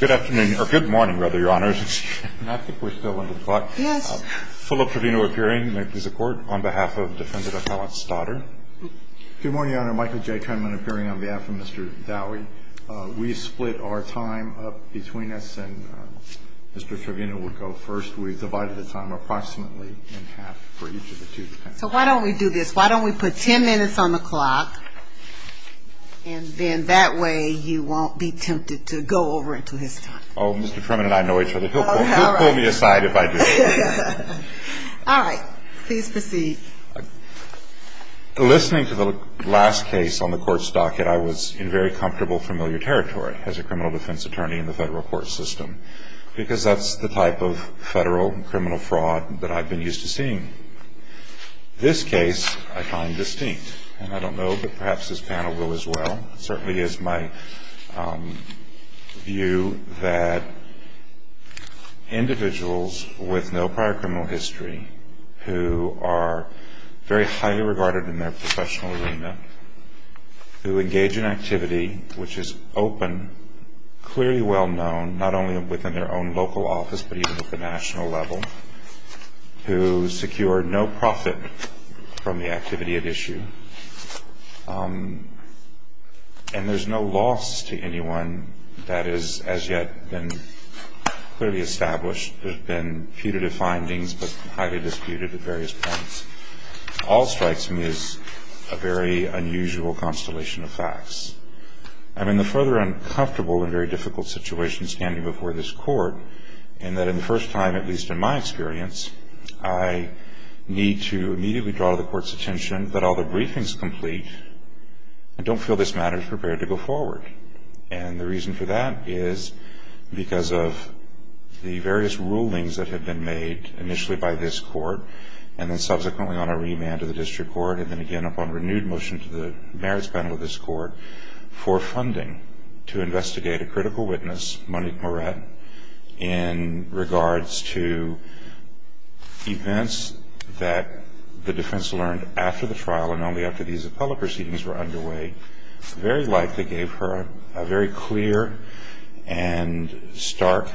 Good afternoon, or good morning, rather, Your Honors. I think we're still on the clock. Yes. Philip Trevino appearing, may it please the Court, on behalf of Defendant Appellant Stoddard. Good morning, Your Honor. Michael J. Trenman appearing on behalf of Mr. Dowie. We split our time up between us, and Mr. Trevino will go first. We've divided the time approximately in half for each of the two defendants. So why don't we do this? Why don't we put ten minutes on the clock, and then that way you won't be tempted to go over until his time. Oh, Mr. Trevino and I know each other. He'll pull me aside if I do. All right. Please proceed. Listening to the last case on the Court's docket, I was in very comfortable familiar territory as a criminal defense attorney in the federal court system, because that's the type of federal criminal fraud that I've been used to seeing. This case I find distinct, and I don't know that perhaps this panel will as well. It certainly is my view that individuals with no prior criminal history who are very highly regarded in their professional arena, who engage in activity which is open, clearly well-known, not only within their own local office but even at the national level, who secure no profit from the activity at issue, and there's no loss to anyone that has as yet been clearly established. There have been putative findings but highly disputed at various points. All strikes me as a very unusual constellation of facts. I'm in the further uncomfortable and very difficult situation standing before this Court, in that in the first time, at least in my experience, I need to immediately draw the Court's attention that all the briefings complete and don't feel this matter is prepared to go forward. And the reason for that is because of the various rulings that have been made initially by this Court and then subsequently on a remand to the District Court and then again upon renewed motion to the Merits Panel of this Court for funding to investigate a critical witness, Monique Moret, in regards to events that the defense learned after the trial and only after these appellate proceedings were underway, very likely gave her a very clear and stark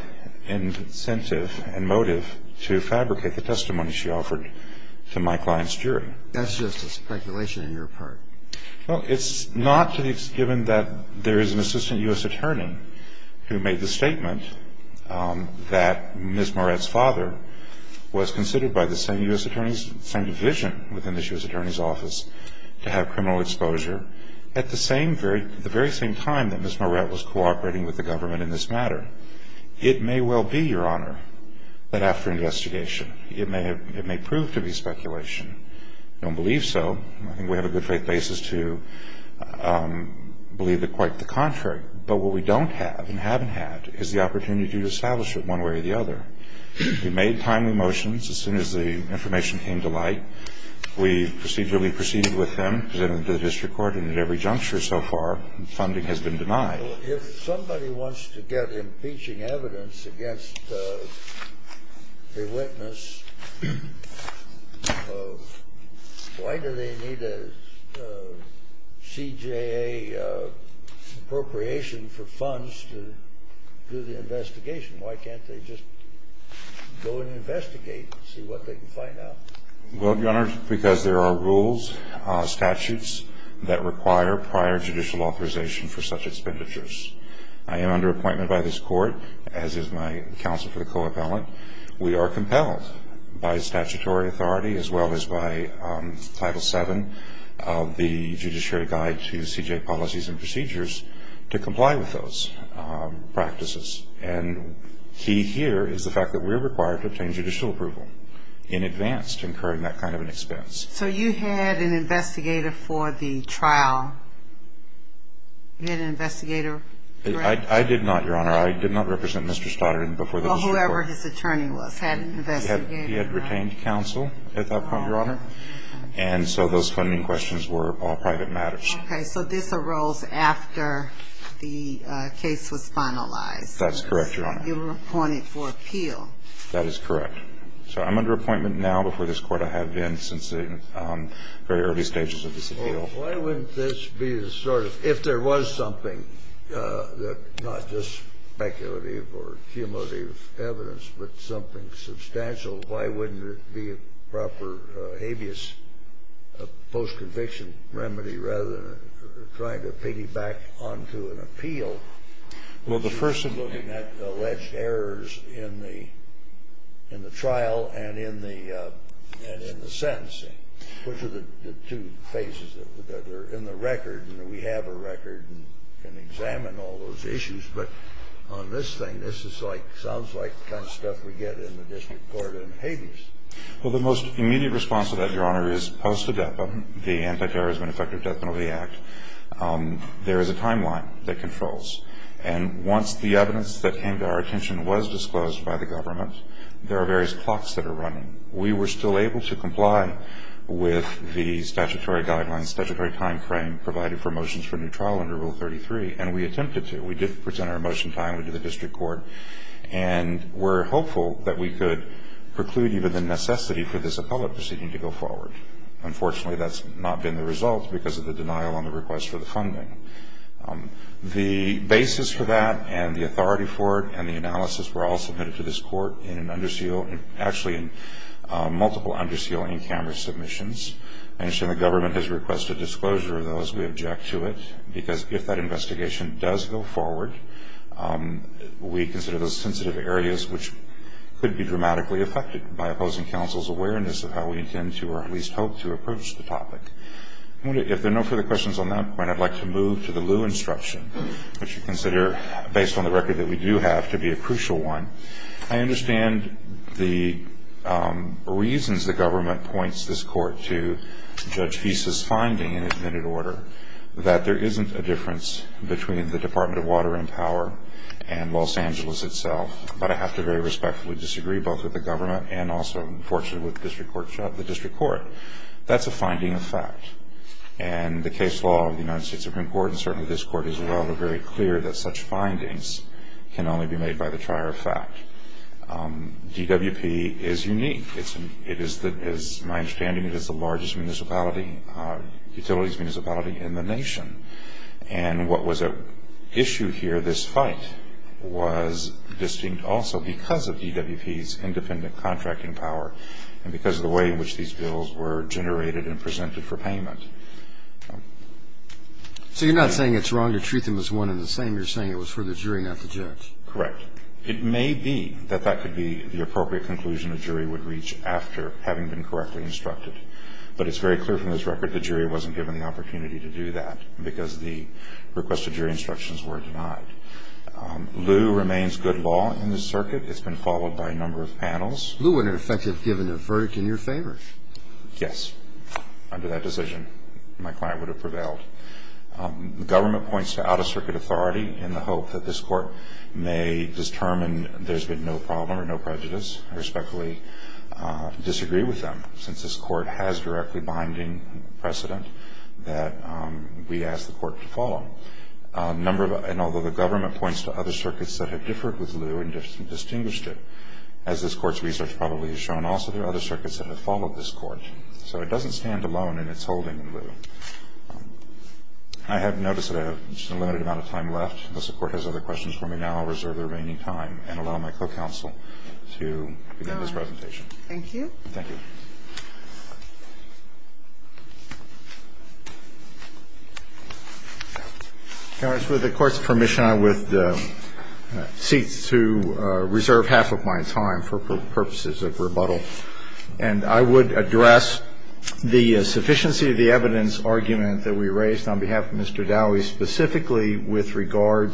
incentive and motive to fabricate the testimony she offered to my client's jury. That's just a speculation on your part. Well, it's not that it's given that there is an assistant U.S. attorney who made the statement that Ms. Moret's father was considered by the same U.S. attorneys, same division within this U.S. attorney's office, to have criminal exposure at the very same time that Ms. Moret was cooperating with the government in this matter. It may well be, Your Honor, that after investigation, it may prove to be speculation. I don't believe so. I think we have a good faith basis to believe that quite the contrary. But what we don't have and haven't had is the opportunity to establish it one way or the other. We made timely motions as soon as the information came to light. We procedurally proceeded with them, presented them to the District Court, and at every juncture so far, funding has been denied. Well, if somebody wants to get impeaching evidence against a witness, why do they need a CJA appropriation for funds to do the investigation? Why can't they just go and investigate and see what they can find out? Well, Your Honor, because there are rules, statutes, that require prior judicial authorization for such expenditures. I am under appointment by this Court, as is my counsel for the co-appellant. We are compelled by statutory authority as well as by Title VII of the Judiciary Guide to CJA Policies and Procedures to comply with those practices. And key here is the fact that we're required to obtain judicial approval in advance to incurring that kind of an expense. So you had an investigator for the trial? You had an investigator? I did not, Your Honor. I did not represent Mr. Stoddard before the District Court. Well, whoever his attorney was had an investigator. He had retained counsel at that point, Your Honor. And so those funding questions were all private matters. Okay. So this arose after the case was finalized. That's correct, Your Honor. You were appointed for appeal. That is correct. So I'm under appointment now before this Court. I have been since the very early stages of this appeal. Well, why wouldn't this be sort of, if there was something, not just speculative or cumulative evidence, but something substantial, why wouldn't it be a proper habeas post-conviction remedy rather than trying to piggyback onto an appeal? Well, the first of the... You're looking at alleged errors in the trial and in the sentencing, which are the two phases that are in the record. And we have a record and can examine all those issues. But on this thing, this is like, sounds like the kind of stuff we get in the District Court in habeas. Well, the most immediate response to that, Your Honor, is post-a-depa, the Anti-Terrorism and Effective Death Penalty Act. There is a timeline that controls. And once the evidence that came to our attention was disclosed by the government, there are various clocks that are running. We were still able to comply with the statutory guidelines, statutory time frame provided for motions for new trial under Rule 33, and we attempted to. We did present our motion timely to the District Court. And we're hopeful that we could preclude even the necessity for this appellate proceeding to go forward. Unfortunately, that's not been the result because of the denial on the request for the funding. The basis for that and the authority for it and the analysis were all submitted to this court in an under seal, actually in multiple under seal in-camera submissions. I understand the government has requested disclosure of those. We object to it because if that investigation does go forward, we consider those sensitive areas which could be dramatically affected by opposing counsel's awareness of how we intend to or at least hope to approach the topic. If there are no further questions on that point, I'd like to move to the lieu instruction, which we consider, based on the record that we do have, to be a crucial one. I understand the reasons the government points this court to Judge Feist's finding in his minute order that there isn't a difference between the Department of Water and Power and Los Angeles itself. But I have to very respectfully disagree both with the government and also, unfortunately, with the district court. That's a finding of fact. And the case law of the United States Supreme Court and certainly this court as well are very clear that such findings can only be made by the trier of fact. DWP is unique. It is, my understanding, it is the largest utilities municipality in the nation. And what was at issue here, this fight, was distinct also because of DWP's independent contracting power and because of the way in which these bills were generated and presented for payment. So you're not saying it's wrong to treat them as one and the same. You're saying it was for the jury, not the judge. Correct. It may be that that could be the appropriate conclusion the jury would reach after having been correctly instructed. But it's very clear from this record the jury wasn't given the opportunity to do that because the requested jury instructions were denied. Lew remains good law in this circuit. It's been followed by a number of panels. Lew would, in effect, have given a verdict in your favor. Yes. Under that decision, my client would have prevailed. The government points to out-of-circuit authority in the hope that this court may determine there's been no problem or no prejudice. I respectfully disagree with them since this court has directly binding precedent that we ask the court to follow. And although the government points to other circuits that have differed with Lew and distinguished it, as this court's research probably has shown also, there are other circuits that have followed this court. So it doesn't stand alone in its holding in Lew. I have noticed that I have just a limited amount of time left. Unless the court has other questions for me now, I'll reserve the remaining time and allow my co-counsel to begin this presentation. Thank you. Thank you. Counsel, with the Court's permission, I would cease to reserve half of my time for purposes of rebuttal. And I would address the sufficiency of the evidence argument that we raised on behalf of Mr.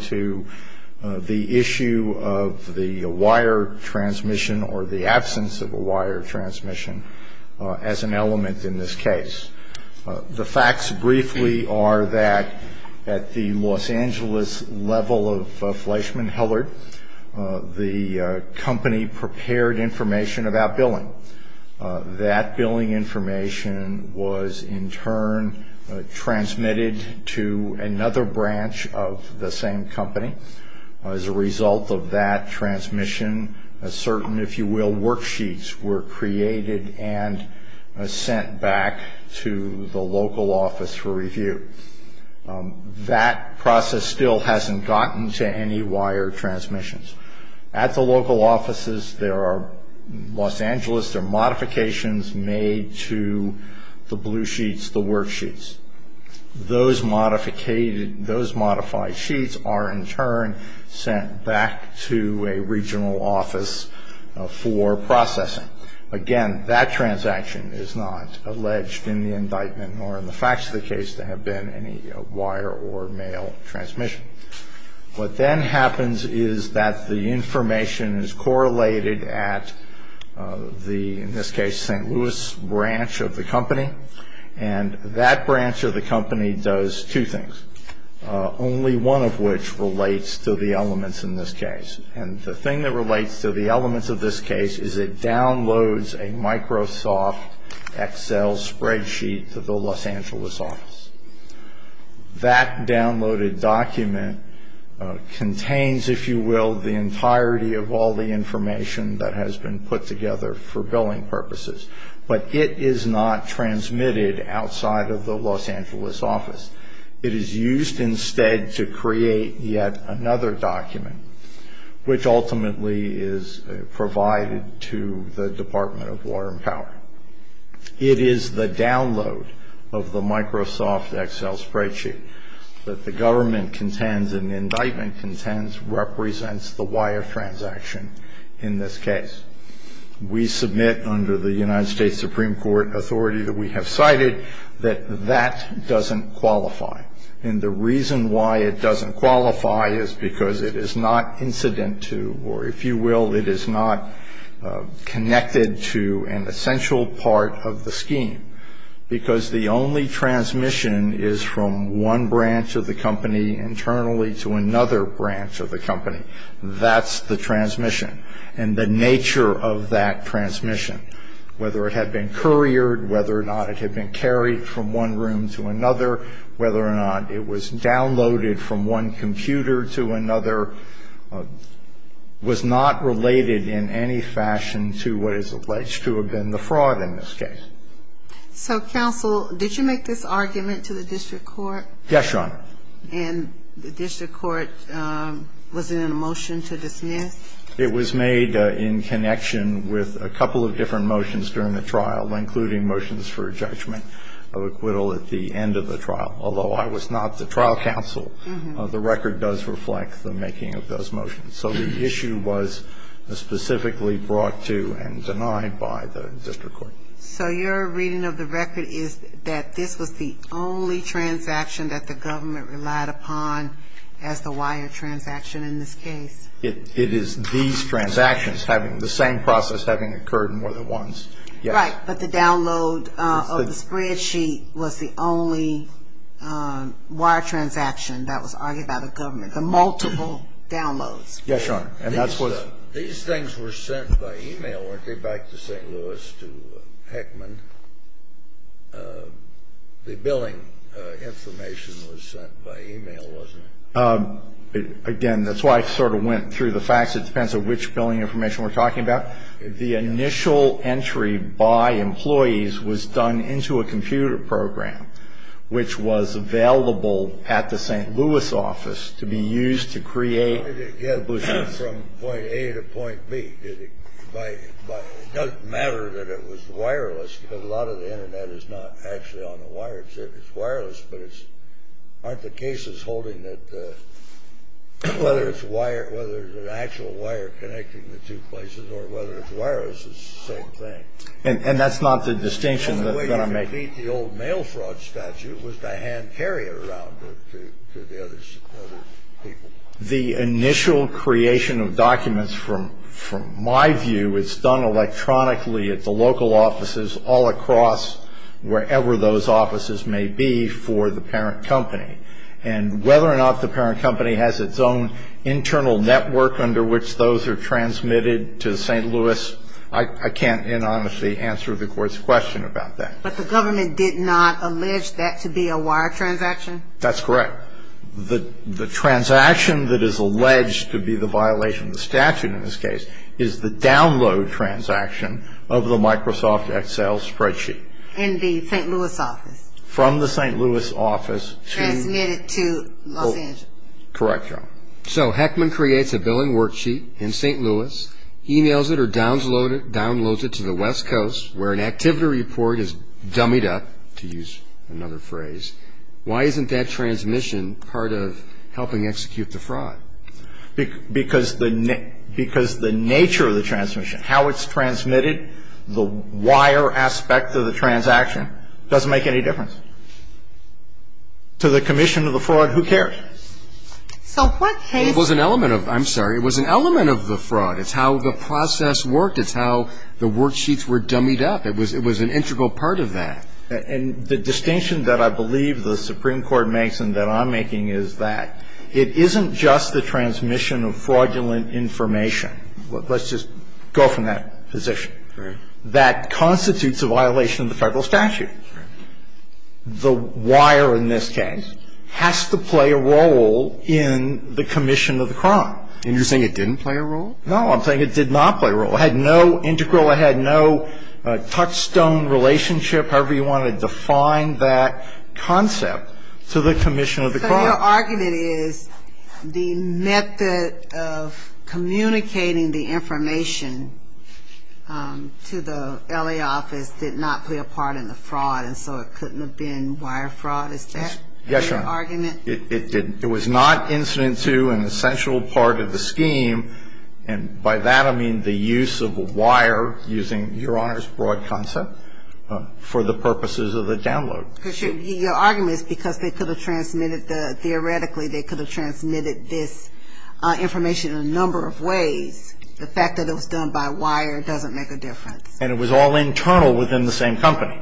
to the issue of the wire transmission or the absence of a wire transmission as an element in this case. The facts briefly are that at the Los Angeles level of Fleischmann-Hellert, the company prepared information about billing. That billing information was in turn transmitted to another branch of the same company. As a result of that transmission, certain, if you will, worksheets were created and sent back to the local office for review. That process still hasn't gotten to any wire transmissions. At the local offices, Los Angeles, there are modifications made to the blue sheets, the worksheets. Those modified sheets are in turn sent back to a regional office for processing. Again, that transaction is not alleged in the indictment or in the facts of the case to have been any wire or mail transmission. What then happens is that the information is correlated at the, in this case, St. Louis branch of the company. And that branch of the company does two things, only one of which relates to the elements in this case. And the thing that relates to the elements of this case is it downloads a Microsoft Excel spreadsheet to the Los Angeles office. That downloaded document contains, if you will, the entirety of all the information that has been put together for billing purposes. But it is not transmitted outside of the Los Angeles office. It is used instead to create yet another document, which ultimately is provided to the Department of Law and Power. It is the download of the Microsoft Excel spreadsheet that the government contends and indictment contends represents the wire transaction in this case. We submit under the United States Supreme Court authority that we have cited that that doesn't qualify. And the reason why it doesn't qualify is because it is not incident to, or if you will, it is not connected to an essential part of the scheme. Because the only transmission is from one branch of the company internally to another branch of the company. That's the transmission. And the nature of that transmission, whether it had been couriered, whether or not it had been carried from one room to another, whether or not it was downloaded from one computer to another, was not related in any fashion to what is alleged to have been the fraud in this case. So, counsel, did you make this argument to the district court? Yes, Your Honor. And the district court, was it in a motion to dismiss? It was made in connection with a couple of different motions during the trial, including motions for judgment of acquittal at the end of the trial. Although I was not the trial counsel, the record does reflect the making of those motions. So the issue was specifically brought to and denied by the district court. So your reading of the record is that this was the only transaction that the government relied upon as the wire transaction in this case? It is these transactions having the same process having occurred more than once. Right. But the download of the spreadsheet was the only wire transaction that was argued by the government. The multiple downloads. Yes, Your Honor. These things were sent by e-mail, weren't they, back to St. Louis to Heckman? The billing information was sent by e-mail, wasn't it? Again, that's why I sort of went through the facts. It depends on which billing information we're talking about. The initial entry by employees was done into a computer program, which was available at the St. Louis office to be used to create the blueprint. Did it get from point A to point B? It doesn't matter that it was wireless, because a lot of the Internet is not actually on the wire. It's wireless, but aren't the cases holding that whether it's an actual wire connecting the two places or whether it's wireless is the same thing? And that's not the distinction that I'm making. The only way you could beat the old mail fraud statute was to hand carry it around to the other people. The initial creation of documents, from my view, is done electronically at the local offices all across wherever those offices may be for the parent company. And whether or not the parent company has its own internal network under which those are transmitted to St. Louis, I can't anonymously answer the Court's question about that. But the government did not allege that to be a wire transaction? That's correct. The transaction that is alleged to be the violation of the statute in this case is the download transaction of the Microsoft Excel spreadsheet. In the St. Louis office? From the St. Louis office. Transmitted to Los Angeles. Correct, Your Honor. So Heckman creates a billing worksheet in St. Louis, emails it or downloads it to the West Coast, where an activity report is dummied up, to use another phrase. Why isn't that transmission part of helping execute the fraud? Because the nature of the transmission, how it's transmitted, the wire aspect of the transaction doesn't make any difference. To the commission of the fraud, who cares? So what case was an element of the fraud? It was an element of the fraud. It's how the process worked. It's how the worksheets were dummied up. It was an integral part of that. And the distinction that I believe the Supreme Court makes and that I'm making is that it isn't just the transmission of fraudulent information. Let's just go from that position. Right. That constitutes a violation of the Federal statute. Right. The wire in this case has to play a role in the commission of the crime. And you're saying it didn't play a role? No, I'm saying it did not play a role. It had no integral, it had no touchstone relationship, however you want to define that concept, to the commission of the crime. So your argument is the method of communicating the information to the L.A. office did not play a part in the fraud, and so it couldn't have been wire fraud? Is that your argument? Yes, Your Honor. It was not incident to an essential part of the scheme, and by that I mean the use of wire using, Your Honor's broad concept, for the purposes of the download. Because your argument is because they could have transmitted the, theoretically they could have transmitted this information in a number of ways. The fact that it was done by wire doesn't make a difference. And it was all internal within the same company.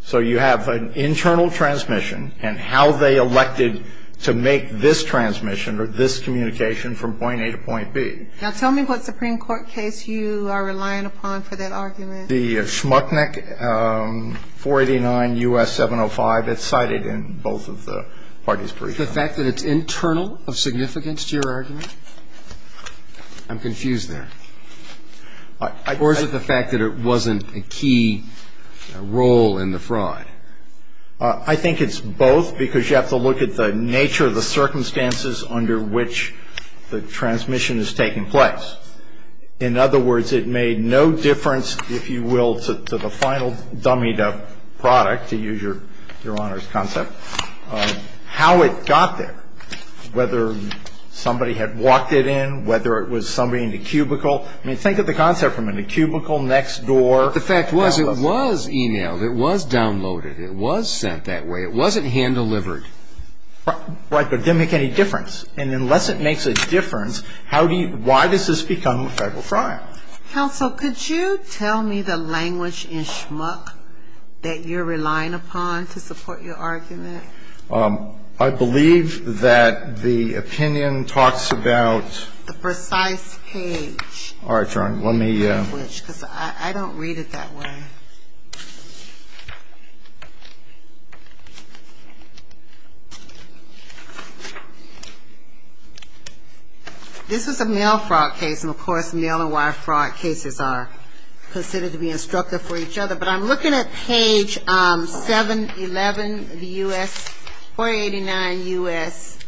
So you have an internal transmission, and how they elected to make this transmission or this communication from point A to point B. Now tell me what Supreme Court case you are relying upon for that argument. The Schmucknick 489 U.S. 705. It's cited in both of the parties' briefs. The fact that it's internal of significance to your argument? I'm confused there. Or is it the fact that it wasn't a key role in the fraud? I think it's both because you have to look at the nature of the circumstances under which the transmission is taking place. In other words, it made no difference, if you will, to the final dummied-up product, to use Your Honor's concept, how it got there, whether somebody had walked it in, whether it was somebody in the cubicle. I mean, think of the concept from in the cubicle, next door. The fact was it was e-mailed. It was downloaded. It was sent that way. It wasn't hand-delivered. Right, but it didn't make any difference. And unless it makes a difference, how do you why does this become a federal trial? Counsel, could you tell me the language in Schmuck that you're relying upon to support your argument? I believe that the opinion talks about the precise page. All right, Your Honor. I don't read it that way. This is a mail fraud case, and, of course, mail and wire fraud cases are considered to be instructive for each other. But I'm looking at page 711 of the U.S. 489 U.S.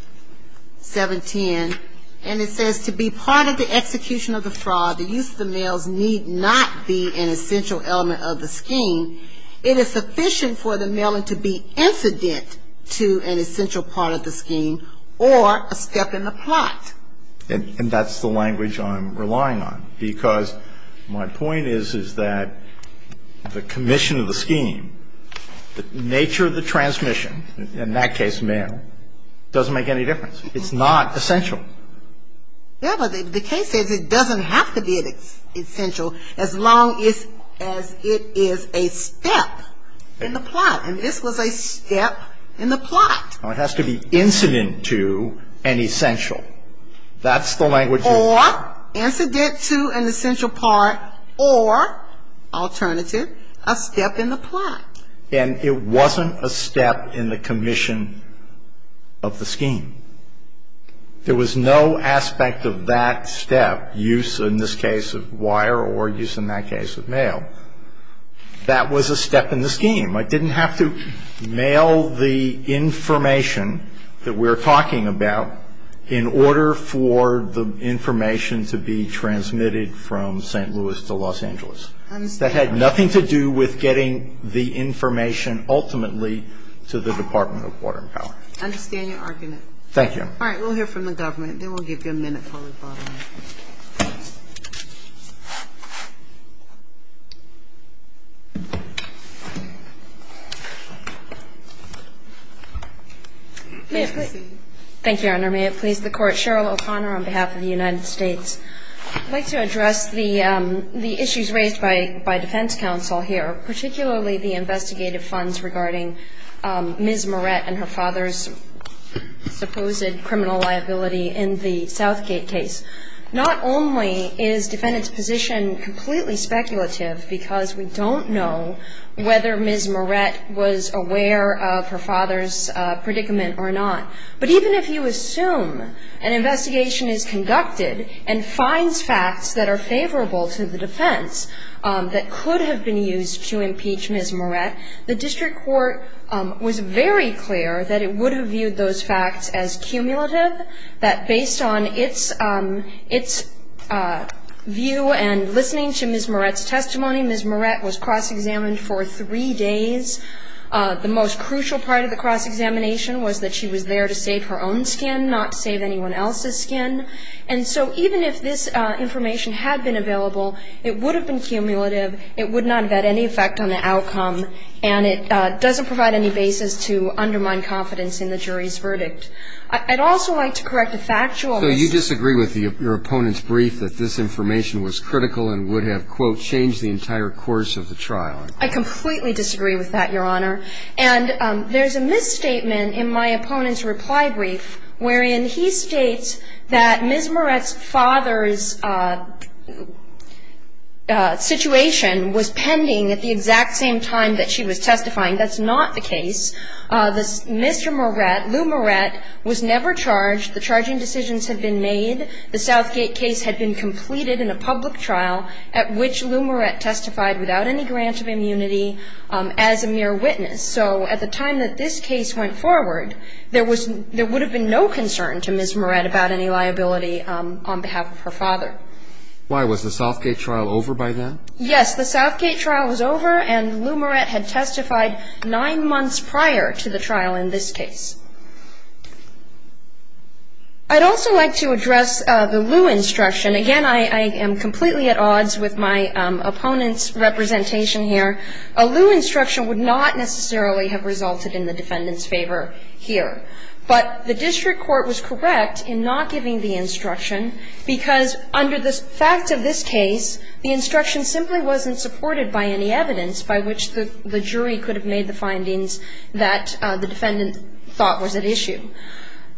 710, and it says, To be part of the execution of the fraud, the use of the mails need not be an essential element of the scheme. It is sufficient for the mailing to be incident to an essential part of the scheme or a step in the plot. And that's the language I'm relying on, because my point is, is that the commission of the scheme, the nature of the transmission, in that case mail, doesn't make any difference. It's not essential. Yeah, but the case says it doesn't have to be essential as long as it is a step in the plot. And this was a step in the plot. It has to be incident to an essential. That's the language. Or incident to an essential part or, alternative, a step in the plot. And it wasn't a step in the commission of the scheme. There was no aspect of that step, use in this case of wire or use in that case of mail. That was a step in the scheme. It didn't have to mail the information that we're talking about in order for the information to be transmitted from St. Louis to Los Angeles. And so the question is, what's the nature of the incident? And I think the answer is, the nature of the incident is that it had nothing to do with getting the information ultimately to the Department of Water and Power. I understand your argument. Thank you. All right. We'll hear from the government, and then we'll give you a minute for rebuttal. May I please? Thank you, Your Honor. May it please the Court. Cheryl O'Connor on behalf of the United States. I'd like to address the issues raised by defense counsel here, particularly the investigative funds regarding Ms. Moret and her father's supposed criminal liability in the Southgate case. Not only is defendant's position completely speculative because we don't know whether Ms. Moret was aware of her father's predicament or not, but even if you assume an investigation is conducted and finds facts that are favorable to the defense that could have been used to impeach Ms. Moret, the district court was very clear that it would have treated those facts as cumulative, that based on its view and listening to Ms. Moret's testimony, Ms. Moret was cross-examined for three days. The most crucial part of the cross-examination was that she was there to save her own skin, not save anyone else's skin. And so even if this information had been available, it would have been cumulative. It would not have had any effect on the outcome, and it doesn't provide any basis to undermine confidence in the jury's verdict. I'd also like to correct a factual mistake. So you disagree with your opponent's brief that this information was critical and would have, quote, changed the entire course of the trial? I completely disagree with that, Your Honor. And there's a misstatement in my opponent's reply brief wherein he states that Ms. Moret's father's situation was pending at the exact same time that she was testifying. That's not the case. Mr. Moret, Lou Moret, was never charged. The charging decisions had been made. The Southgate case had been completed in a public trial at which Lou Moret testified without any grant of immunity as a mere witness. So at the time that this case went forward, there would have been no concern to Ms. Moret about any liability on behalf of her father. Was the Southgate trial over by then? Yes, the Southgate trial was over, and Lou Moret had testified nine months prior to the trial in this case. I'd also like to address the Lou instruction. Again, I am completely at odds with my opponent's representation here. A Lou instruction would not necessarily have resulted in the defendant's favor here. But the district court was correct in not giving the instruction because under the fact of this case, the instruction simply wasn't supported by any evidence by which the jury could have made the findings that the defendant thought was at issue.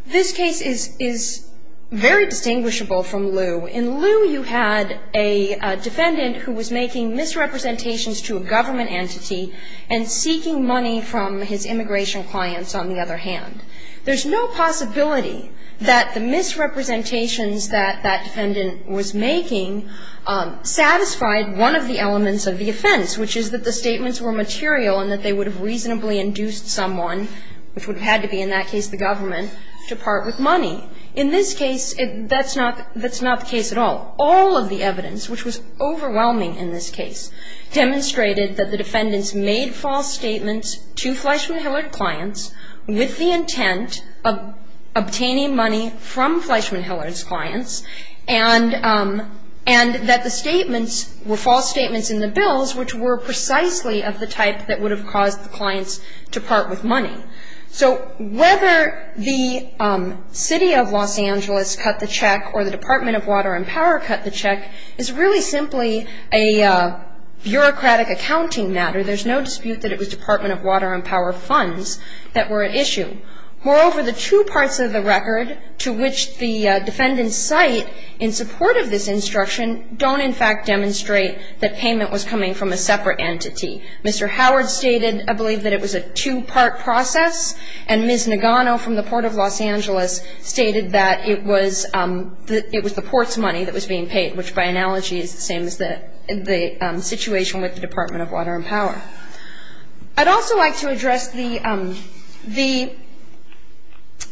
This case is very distinguishable from Lou. In Lou, you had a defendant who was making misrepresentations to a government entity and seeking money from his immigration clients, on the other hand. There's no possibility that the misrepresentations that that defendant was making satisfied one of the elements of the offense, which is that the statements were material and that they would have reasonably induced someone, which would have had to be in that case the government, to part with money. In this case, that's not the case at all. All of the evidence, which was overwhelming in this case, demonstrated that the defendants made false statements to Fleischman-Hillard clients with the intent of obtaining money from Fleischman-Hillard's clients and that the statements were false statements in the bills, which were precisely of the type that would have caused the clients to part with money. So whether the City of Los Angeles cut the check or the Department of Water and Power cut the check is really simply a bureaucratic accounting matter. There's no dispute that it was Department of Water and Power funds that were at issue. Moreover, the two parts of the record to which the defendants cite in support of this instruction don't in fact demonstrate that payment was coming from a separate entity. Mr. Howard stated, I believe, that it was a two-part process, and Ms. Nagano from the Port of Los Angeles stated that it was the port's money that was being paid, which by analogy is the same as the situation with the Department of Water and Power. I'd also like to address the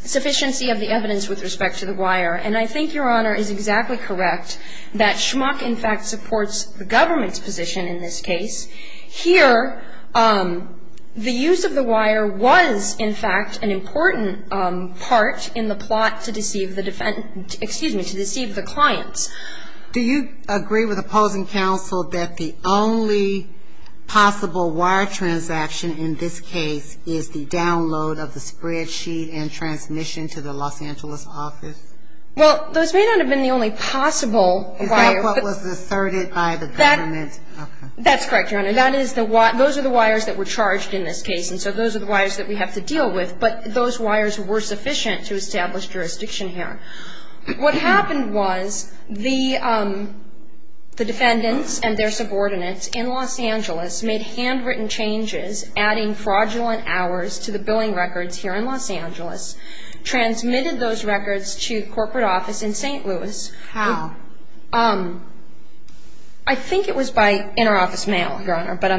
sufficiency of the evidence with respect to the wire, and I think Your Honor is exactly correct that Schmuck in fact supports the government's position in this case. Here, the use of the wire was in fact an important part in the plot to deceive the clients. Do you agree with opposing counsel that the only possible wire transaction in this case is the download of the spreadsheet and transmission to the Los Angeles office? Well, those may not have been the only possible wire. Is that what was asserted by the government? That's correct, Your Honor. Those are the wires that were charged in this case, and so those are the wires that we have to deal with, but those wires were sufficient to establish jurisdiction here. What happened was the defendants and their subordinates in Los Angeles made handwritten changes, adding fraudulent hours to the billing records here in Los Angeles, transmitted those records to the corporate office in St. Louis. How? I think it was by interoffice mail, Your Honor, but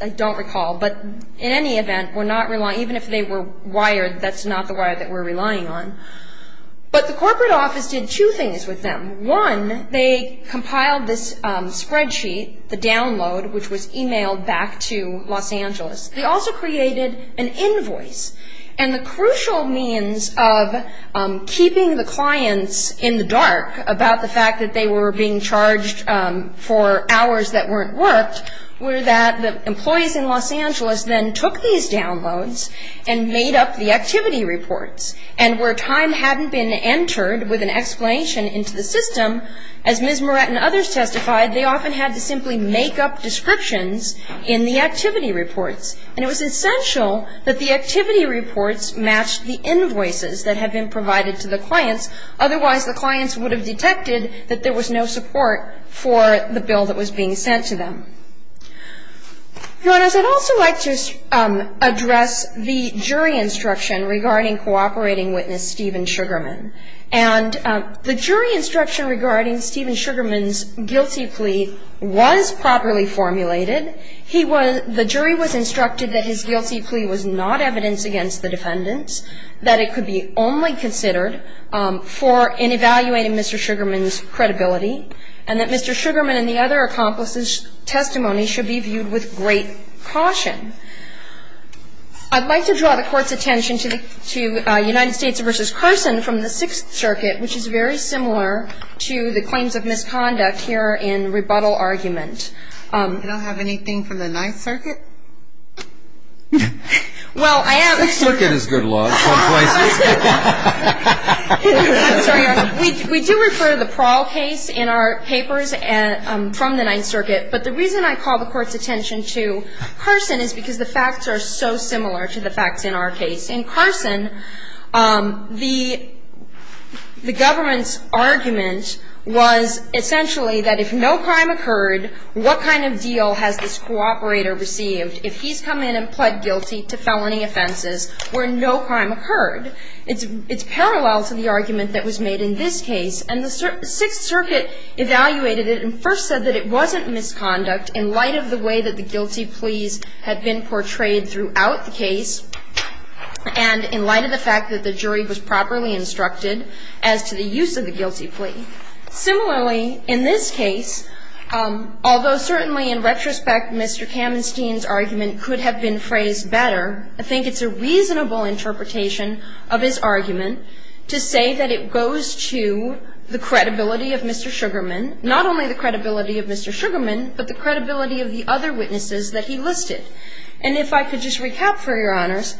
I don't recall. But in any event, even if they were wired, that's not the wire that we're relying on. But the corporate office did two things with them. One, they compiled this spreadsheet, the download, which was emailed back to Los Angeles. They also created an invoice, and the crucial means of keeping the clients in the dark about the fact that they were being charged for hours that weren't worked were that the employees in Los Angeles then took these downloads and made up the activity reports. And where time hadn't been entered with an explanation into the system, as Ms. Morett and others testified, they often had to simply make up descriptions in the activity reports. And it was essential that the activity reports matched the invoices that had been provided to the clients. Otherwise, the clients would have detected that there was no support for the bill that was being sent to them. Your Honors, I'd also like to address the jury instruction regarding cooperating witness Stephen Sugarman. And the jury instruction regarding Stephen Sugarman's guilty plea was properly formulated. He was – the jury was instructed that his guilty plea was not evidence against the defendants, that it could be only considered for – in evaluating Mr. Sugarman's credibility, and that Mr. Sugarman and the other accomplices' testimony should be viewed with great caution. I'd like to draw the Court's attention to United States v. Carson from the Sixth Circuit, which is very similar to the claims of misconduct here in rebuttal argument. Did I have anything from the Ninth Circuit? Well, I have – The Sixth Circuit is good law. It's called twice as good. I'm sorry, Your Honor. We do refer to the Prowl case in our papers from the Ninth Circuit. But the reason I call the Court's attention to Carson is because the facts are so similar to the facts in our case. In Carson, the government's argument was essentially that if no crime occurred, what kind of deal has this cooperator received if he's come in and pled guilty to felony offenses where no crime occurred? It's parallel to the argument that was made in this case. And the Sixth Circuit evaluated it and first said that it wasn't misconduct in light of the way that the guilty pleas had been portrayed throughout the case and in light of the fact that the jury was properly instructed as to the use of the guilty plea. Similarly, in this case, although certainly in retrospect Mr. Kamenstein's argument could have been phrased better, I think it's a reasonable interpretation of his argument to say that it goes to the credibility of Mr. Sugarman, not only the credibility of Mr. Sugarman, but the credibility of the other witnesses that he listed. And if I could just recap for Your Honors,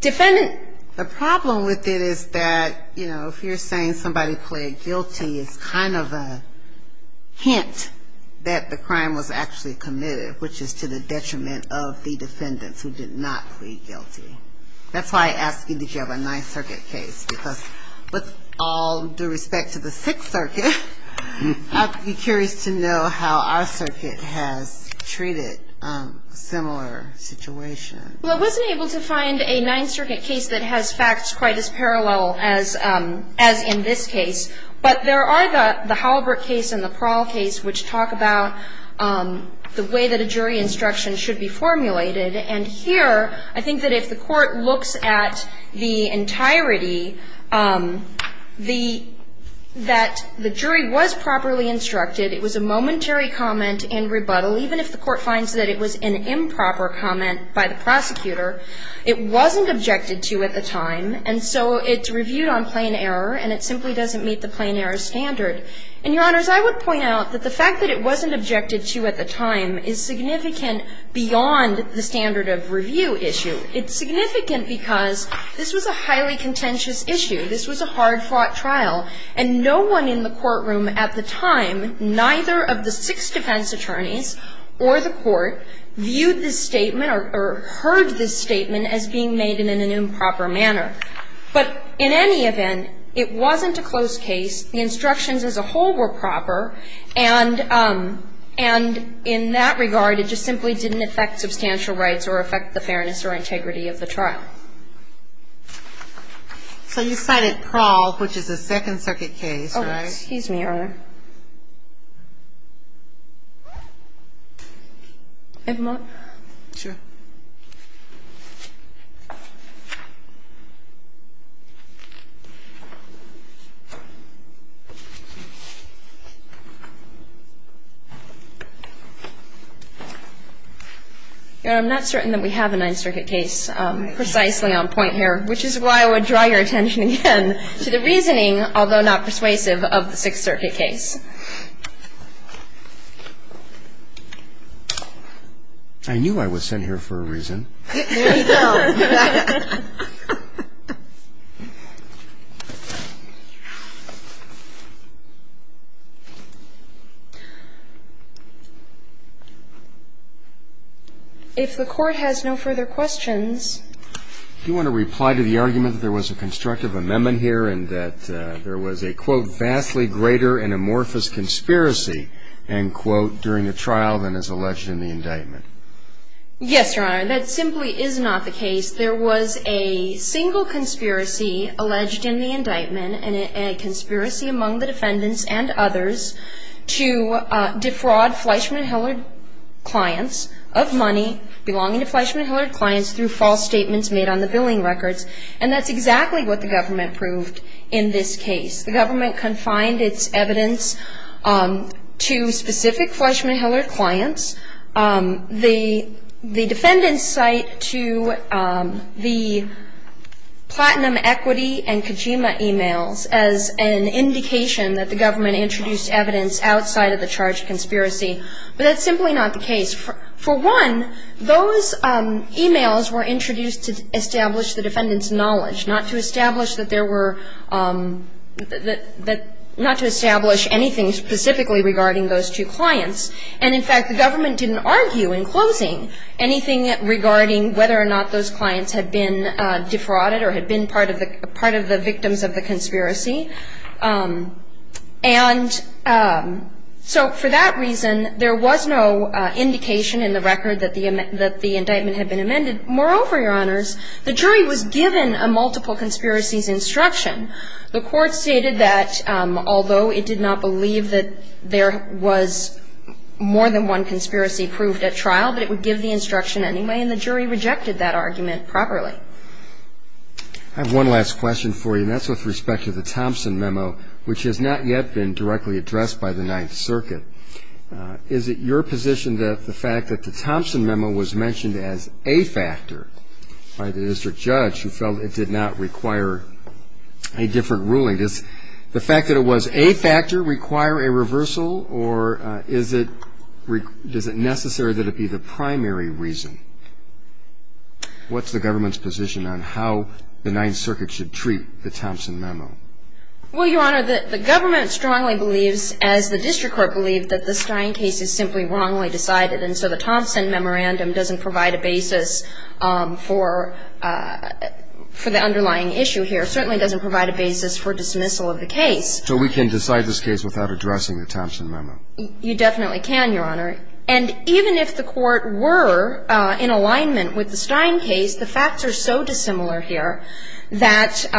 defendant – The problem with it is that, you know, if you're saying somebody pled guilty, it's kind of a hint that the crime was actually committed, which is to the detriment of the defendants who did not plead guilty. That's why I asked you, did you have a Ninth Circuit case? Because with all due respect to the Sixth Circuit, I'd be curious to know how our circuit has treated similar situations. Well, I wasn't able to find a Ninth Circuit case that has facts quite as parallel as in this case. But there are the Halbert case and the Prowl case which talk about the way that a jury instruction should be formulated. And here, I think that if the Court looks at the entirety, the – that the jury was properly instructed. It was a momentary comment in rebuttal. Even if the Court finds that it was an improper comment by the prosecutor, it wasn't objected to at the time. And so it's reviewed on plain error and it simply doesn't meet the plain error standard. And, Your Honors, I would point out that the fact that it wasn't objected to at the time is significant beyond the standard of review issue. It's significant because this was a highly contentious issue. This was a hard-fought trial. And no one in the courtroom at the time, neither of the six defense attorneys or the Court, viewed this statement or heard this statement as being made in an improper manner. But in any event, it wasn't a closed case. The instructions as a whole were proper. And in that regard, it just simply didn't affect substantial rights or affect the fairness or integrity of the trial. So you cited Prowl, which is a Second Circuit case, right? Oh, excuse me, Your Honor. Do you have a moment? Sure. Your Honor, I'm not certain that we have a Ninth Circuit case precisely on point here, which is why I would draw your attention again to the reasoning, although not persuasive, of the Sixth Circuit case. I knew I was sent here for a reason. There you go. If the Court has no further questions. Do you want to reply to the argument that there was a constructive amendment here and that there was a, quote, vastly greater and amorphous, quote, and, quote, during the trial than is alleged in the indictment? Yes, Your Honor. That simply is not the case. There was a single conspiracy alleged in the indictment, and a conspiracy among the defendants and others, to defraud Fleischmann-Hillard clients of money belonging to Fleischmann-Hillard clients through false statements made on the billing records. And that's exactly what the government proved in this case. The government confined its evidence to specific Fleischmann-Hillard clients. The defendants cite to the platinum equity and Kojima e-mails as an indication that the government introduced evidence outside of the charge of conspiracy. But that's simply not the case. For one, those e-mails were introduced to establish the defendants' knowledge, not to establish that there were – that – not to establish anything specifically regarding those two clients. And, in fact, the government didn't argue in closing anything regarding whether or not those clients had been defrauded or had been part of the victims of the conspiracy. And so for that reason, there was no indication in the record that the indictment had been amended. Moreover, Your Honors, the jury was given a multiple conspiracies instruction. The court stated that although it did not believe that there was more than one conspiracy proved at trial, but it would give the instruction anyway, and the jury rejected that argument properly. I have one last question for you, and that's with respect to the Thompson memo, which has not yet been directly addressed by the Ninth Circuit. Is it your position that the fact that the Thompson memo was mentioned as a factor by the district judge who felt it did not require a different ruling, does the fact that it was a factor require a reversal, or is it – does it necessary that it be the primary reason? What's the government's position on how the Ninth Circuit should treat the Thompson memo? Well, Your Honor, the government strongly believes, as the district court believed, that the Stein case is simply wrongly decided. And so the Thompson memorandum doesn't provide a basis for the underlying issue here. It certainly doesn't provide a basis for dismissal of the case. So we can decide this case without addressing the Thompson memo? You definitely can, Your Honor. And even if the court were in alignment with the Stein case, the facts are so dissimilar here that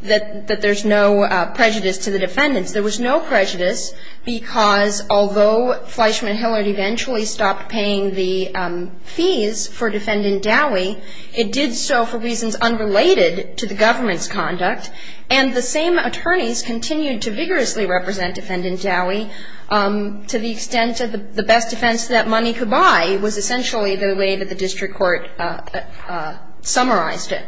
there's no prejudice to the defendants. There was no prejudice because although Fleischman Hillert eventually stopped paying the fees for Defendant Dowie, it did so for reasons unrelated to the government's conduct. And the same attorneys continued to vigorously represent Defendant Dowie to the extent that the best defense that money could buy was essentially the way that the district court summarized it.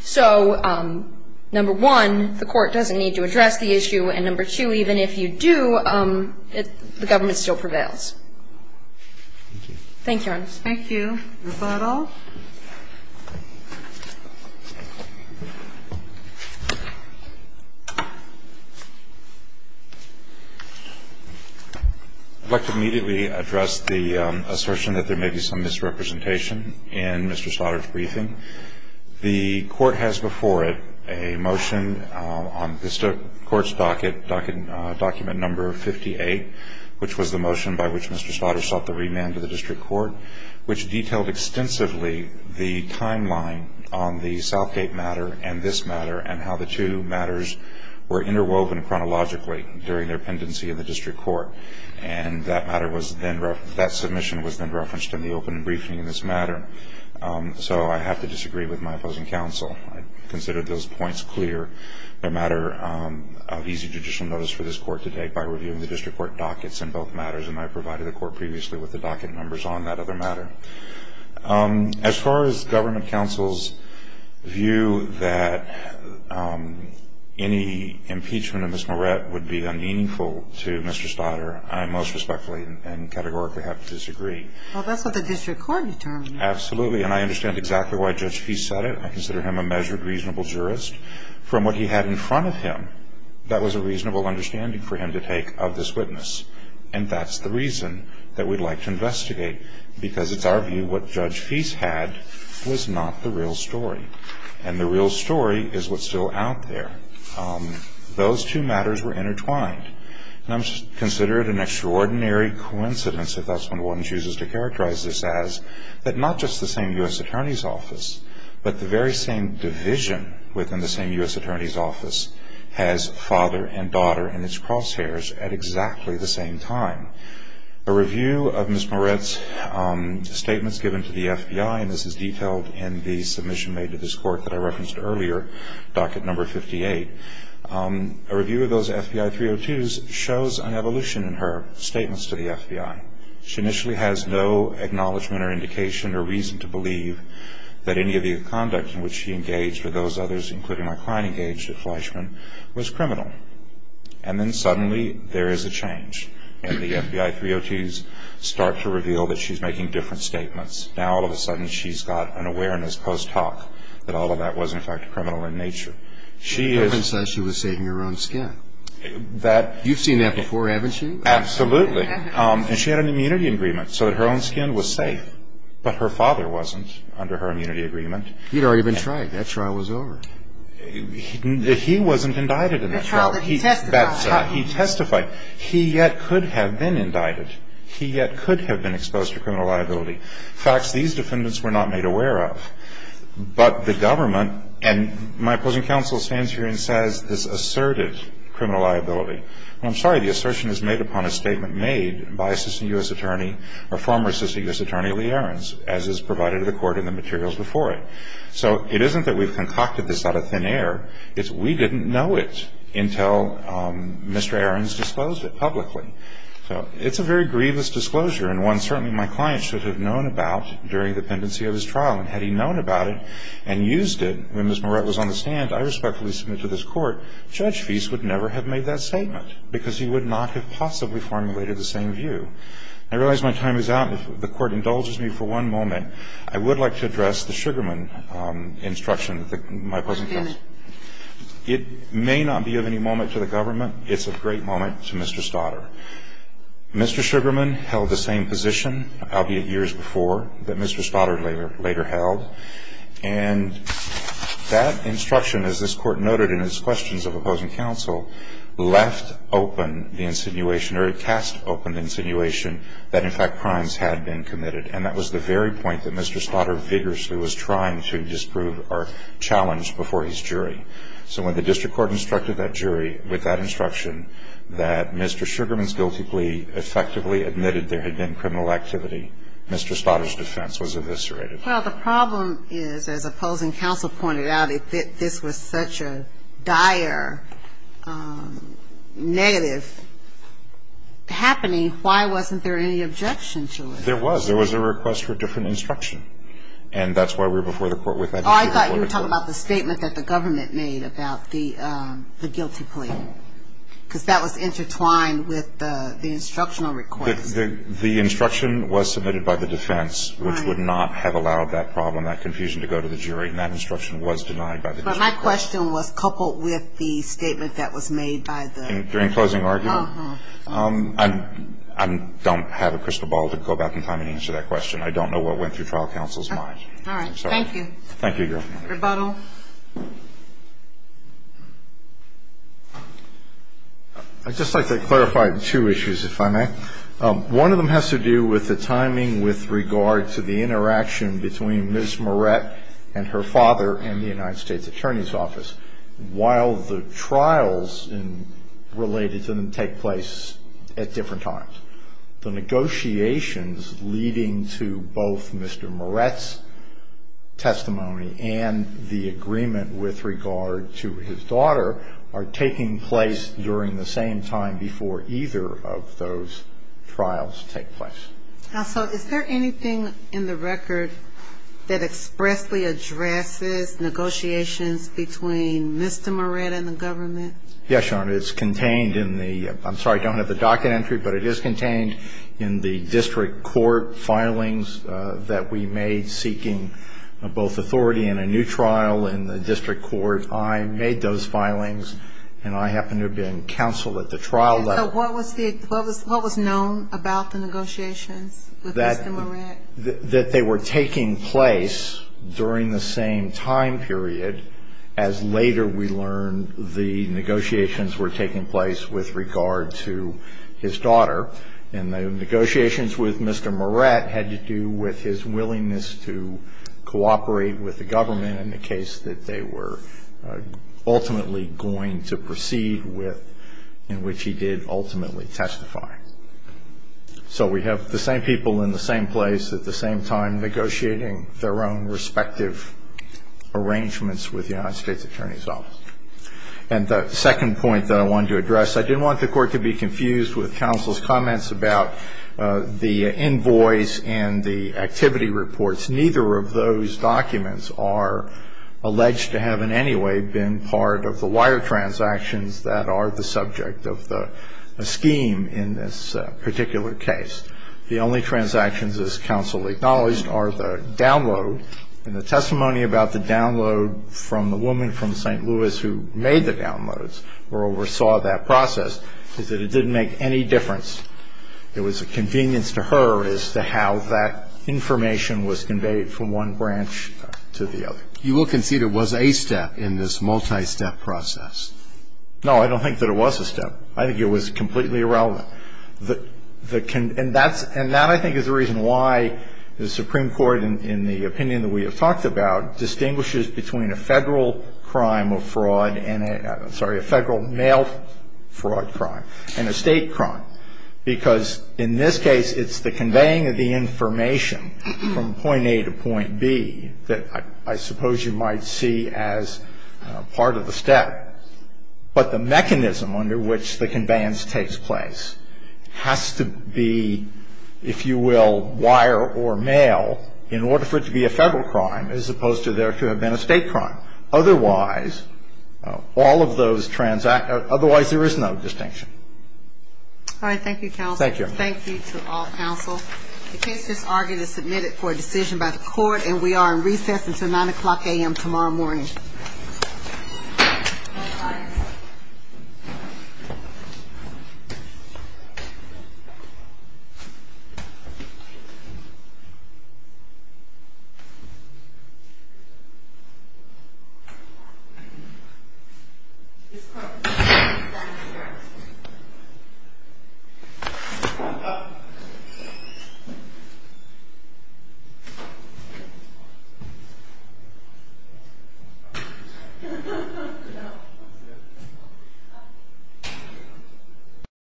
So, number one, the court doesn't need to address the issue. And, number two, even if you do, the government still prevails. Thank you, Your Honor. Thank you. Rebuttal. I'd like to immediately address the assertion that there may be some misrepresentation in Mr. Slaughter's briefing. The court has before it a motion on the court's docket, document number 58, which was the motion by which Mr. Slaughter sought the remand of the district court, which detailed extensively the timeline on the Southgate matter and this matter and how the two matters were interwoven chronologically during their pendency in the district court. And that matter was then referenced, that submission was then referenced in the open briefing in this matter. So, I have to disagree with my opposing counsel. I consider those points clear. They're a matter of easy judicial notice for this court to take by reviewing the district court dockets in both matters, and I provided the court previously with the docket numbers on that other matter. As far as government counsel's view that any impeachment of Ms. Moret would be unmeaningful to Mr. Slaughter, I most respectfully and categorically have to disagree. Well, that's what the district court determined. Absolutely. And I understand exactly why Judge Feist said it. I consider him a measured, reasonable jurist. From what he had in front of him, that was a reasonable understanding for him to take of this witness. And that's the reason that we'd like to investigate, because it's our view what Judge Feist had was not the real story. And the real story is what's still out there. Those two matters were intertwined, and I consider it an extraordinary coincidence, if that's what one chooses to characterize this as, that not just the same U.S. Attorney's Office, but the very same division within the same U.S. Attorney's Office has father and daughter in its crosshairs at exactly the same time. A review of Ms. Moret's statements given to the FBI, and this is detailed in the submission made to this court that I referenced earlier, docket number 58, a review of those FBI 302s shows an evolution in her statements to the FBI. She initially has no acknowledgment or indication or reason to believe that any of the conduct in which she engaged or those others, including my client engaged at Fleischman, was criminal. And then suddenly there is a change, and the FBI 302s start to reveal that she's making different statements. Now, all of a sudden, she's got an awareness post hoc that all of that was, in fact, criminal in nature. She is... The evidence says she was saving her own skin. That... You've seen that before, haven't you? Absolutely. And she had an immunity agreement so that her own skin was safe. But her father wasn't under her immunity agreement. He'd already been tried. That trial was over. He wasn't indicted in that trial. The trial that he testified. He testified. He yet could have been indicted. He yet could have been exposed to criminal liability. In fact, these defendants were not made aware of. But the government, and my opposing counsel stands here and says this asserted criminal liability. I'm sorry. The assertion is made upon a statement made by Assistant U.S. Attorney or former Assistant U.S. Attorney Lee Ahrens, as is provided to the court in the materials before it. So it isn't that we've concocted this out of thin air. It's we didn't know it until Mr. Ahrens disclosed it publicly. So it's a very grievous disclosure and one certainly my client should have known about during the pendency of his trial. And had he known about it and used it when Ms. Moret was on the stand, I respectfully submit to this court, Judge Feist would never have made that statement because he would not have possibly formulated the same view. I realize my time is out. If the Court indulges me for one moment, I would like to address the Sugarman instruction, my opposing counsel. It may not be of any moment to the government. It's a great moment to Mr. Stotter. Mr. Sugarman held the same position, albeit years before, that Mr. Stotter later held. And that instruction, as this Court noted in its questions of opposing counsel, left open the insinuation or cast open the insinuation that, in fact, crimes had been committed. And that was the very point that Mr. Stotter vigorously was trying to disprove or challenge before his jury. So when the district court instructed that jury with that instruction that Mr. Sugarman's guilty plea effectively admitted there had been criminal activity, Mr. Stotter's defense was eviscerated. Well, the problem is, as opposing counsel pointed out, if this was such a dire negative happening, why wasn't there any objection to it? There was. There was a request for different instruction. And that's why we were before the Court with that instruction. Oh, I thought you were talking about the statement that the government made about the guilty plea, because that was intertwined with the instructional request. The instruction was submitted by the defense, which would not have allowed that problem, that confusion, to go to the jury. And that instruction was denied by the district court. But my question was coupled with the statement that was made by the jury. During closing argument? Uh-huh. I don't have a crystal ball to go back in time and answer that question. I don't know what went through trial counsel's mind. All right. Thank you. Thank you, Your Honor. Rebuttal. I'd just like to clarify two issues, if I may. One of them has to do with the timing with regard to the interaction between Ms. Moret and her father in the United States Attorney's Office. While the trials related to them take place at different times, the negotiations leading to both Mr. Moret's testimony and the agreement with regard to his daughter are taking place during the same time before either of those trials take place. Counsel, is there anything in the record that expressly addresses negotiations between Mr. Moret and the government? Yes, Your Honor. It's contained in the ‑‑ I'm sorry, I don't have the docket entry, but it is contained in the district court filings that we made seeking both authority and a new trial in the district court. I made those filings, and I happen to have been counsel at the trial level. So what was known about the negotiations with Mr. Moret? That they were taking place during the same time period, as later we learned the negotiations were taking place with regard to his daughter. And the negotiations with Mr. Moret had to do with his willingness to cooperate with the government in the case that they were ultimately going to proceed with, in which he did ultimately testify. So we have the same people in the same place at the same time negotiating their own respective arrangements with the United States Attorney's Office. And the second point that I wanted to address, I didn't want the court to be confused with counsel's comments about the invoice and the activity reports. Neither of those documents are alleged to have in any way been part of the wire transactions that are the subject of the scheme in this particular case. The only transactions, as counsel acknowledged, are the download. And the testimony about the download from the woman from St. Louis who made the downloads or oversaw that process is that it didn't make any difference. It was a convenience to her as to how that information was conveyed from one branch to the other. You will concede it was a step in this multi-step process. No, I don't think that it was a step. I think it was completely irrelevant. And that, I think, is the reason why the Supreme Court, in the opinion that we have talked about, distinguishes between a federal crime of fraud and a, sorry, a federal mail fraud crime and a state crime. Because in this case, it's the conveying of the information from point A to point B that I suppose you might see as part of the step. But the mechanism under which the conveyance takes place has to be, if you will, wire or mail in order for it to be a federal crime as opposed to there to have been a state crime. Otherwise, all of those transactions, otherwise there is no distinction. All right, thank you, counsel. Thank you. Thank you to all counsel. The case is argued and submitted for a decision by the court, and we are in recess until 9 o'clock a.m. tomorrow morning. Thank you.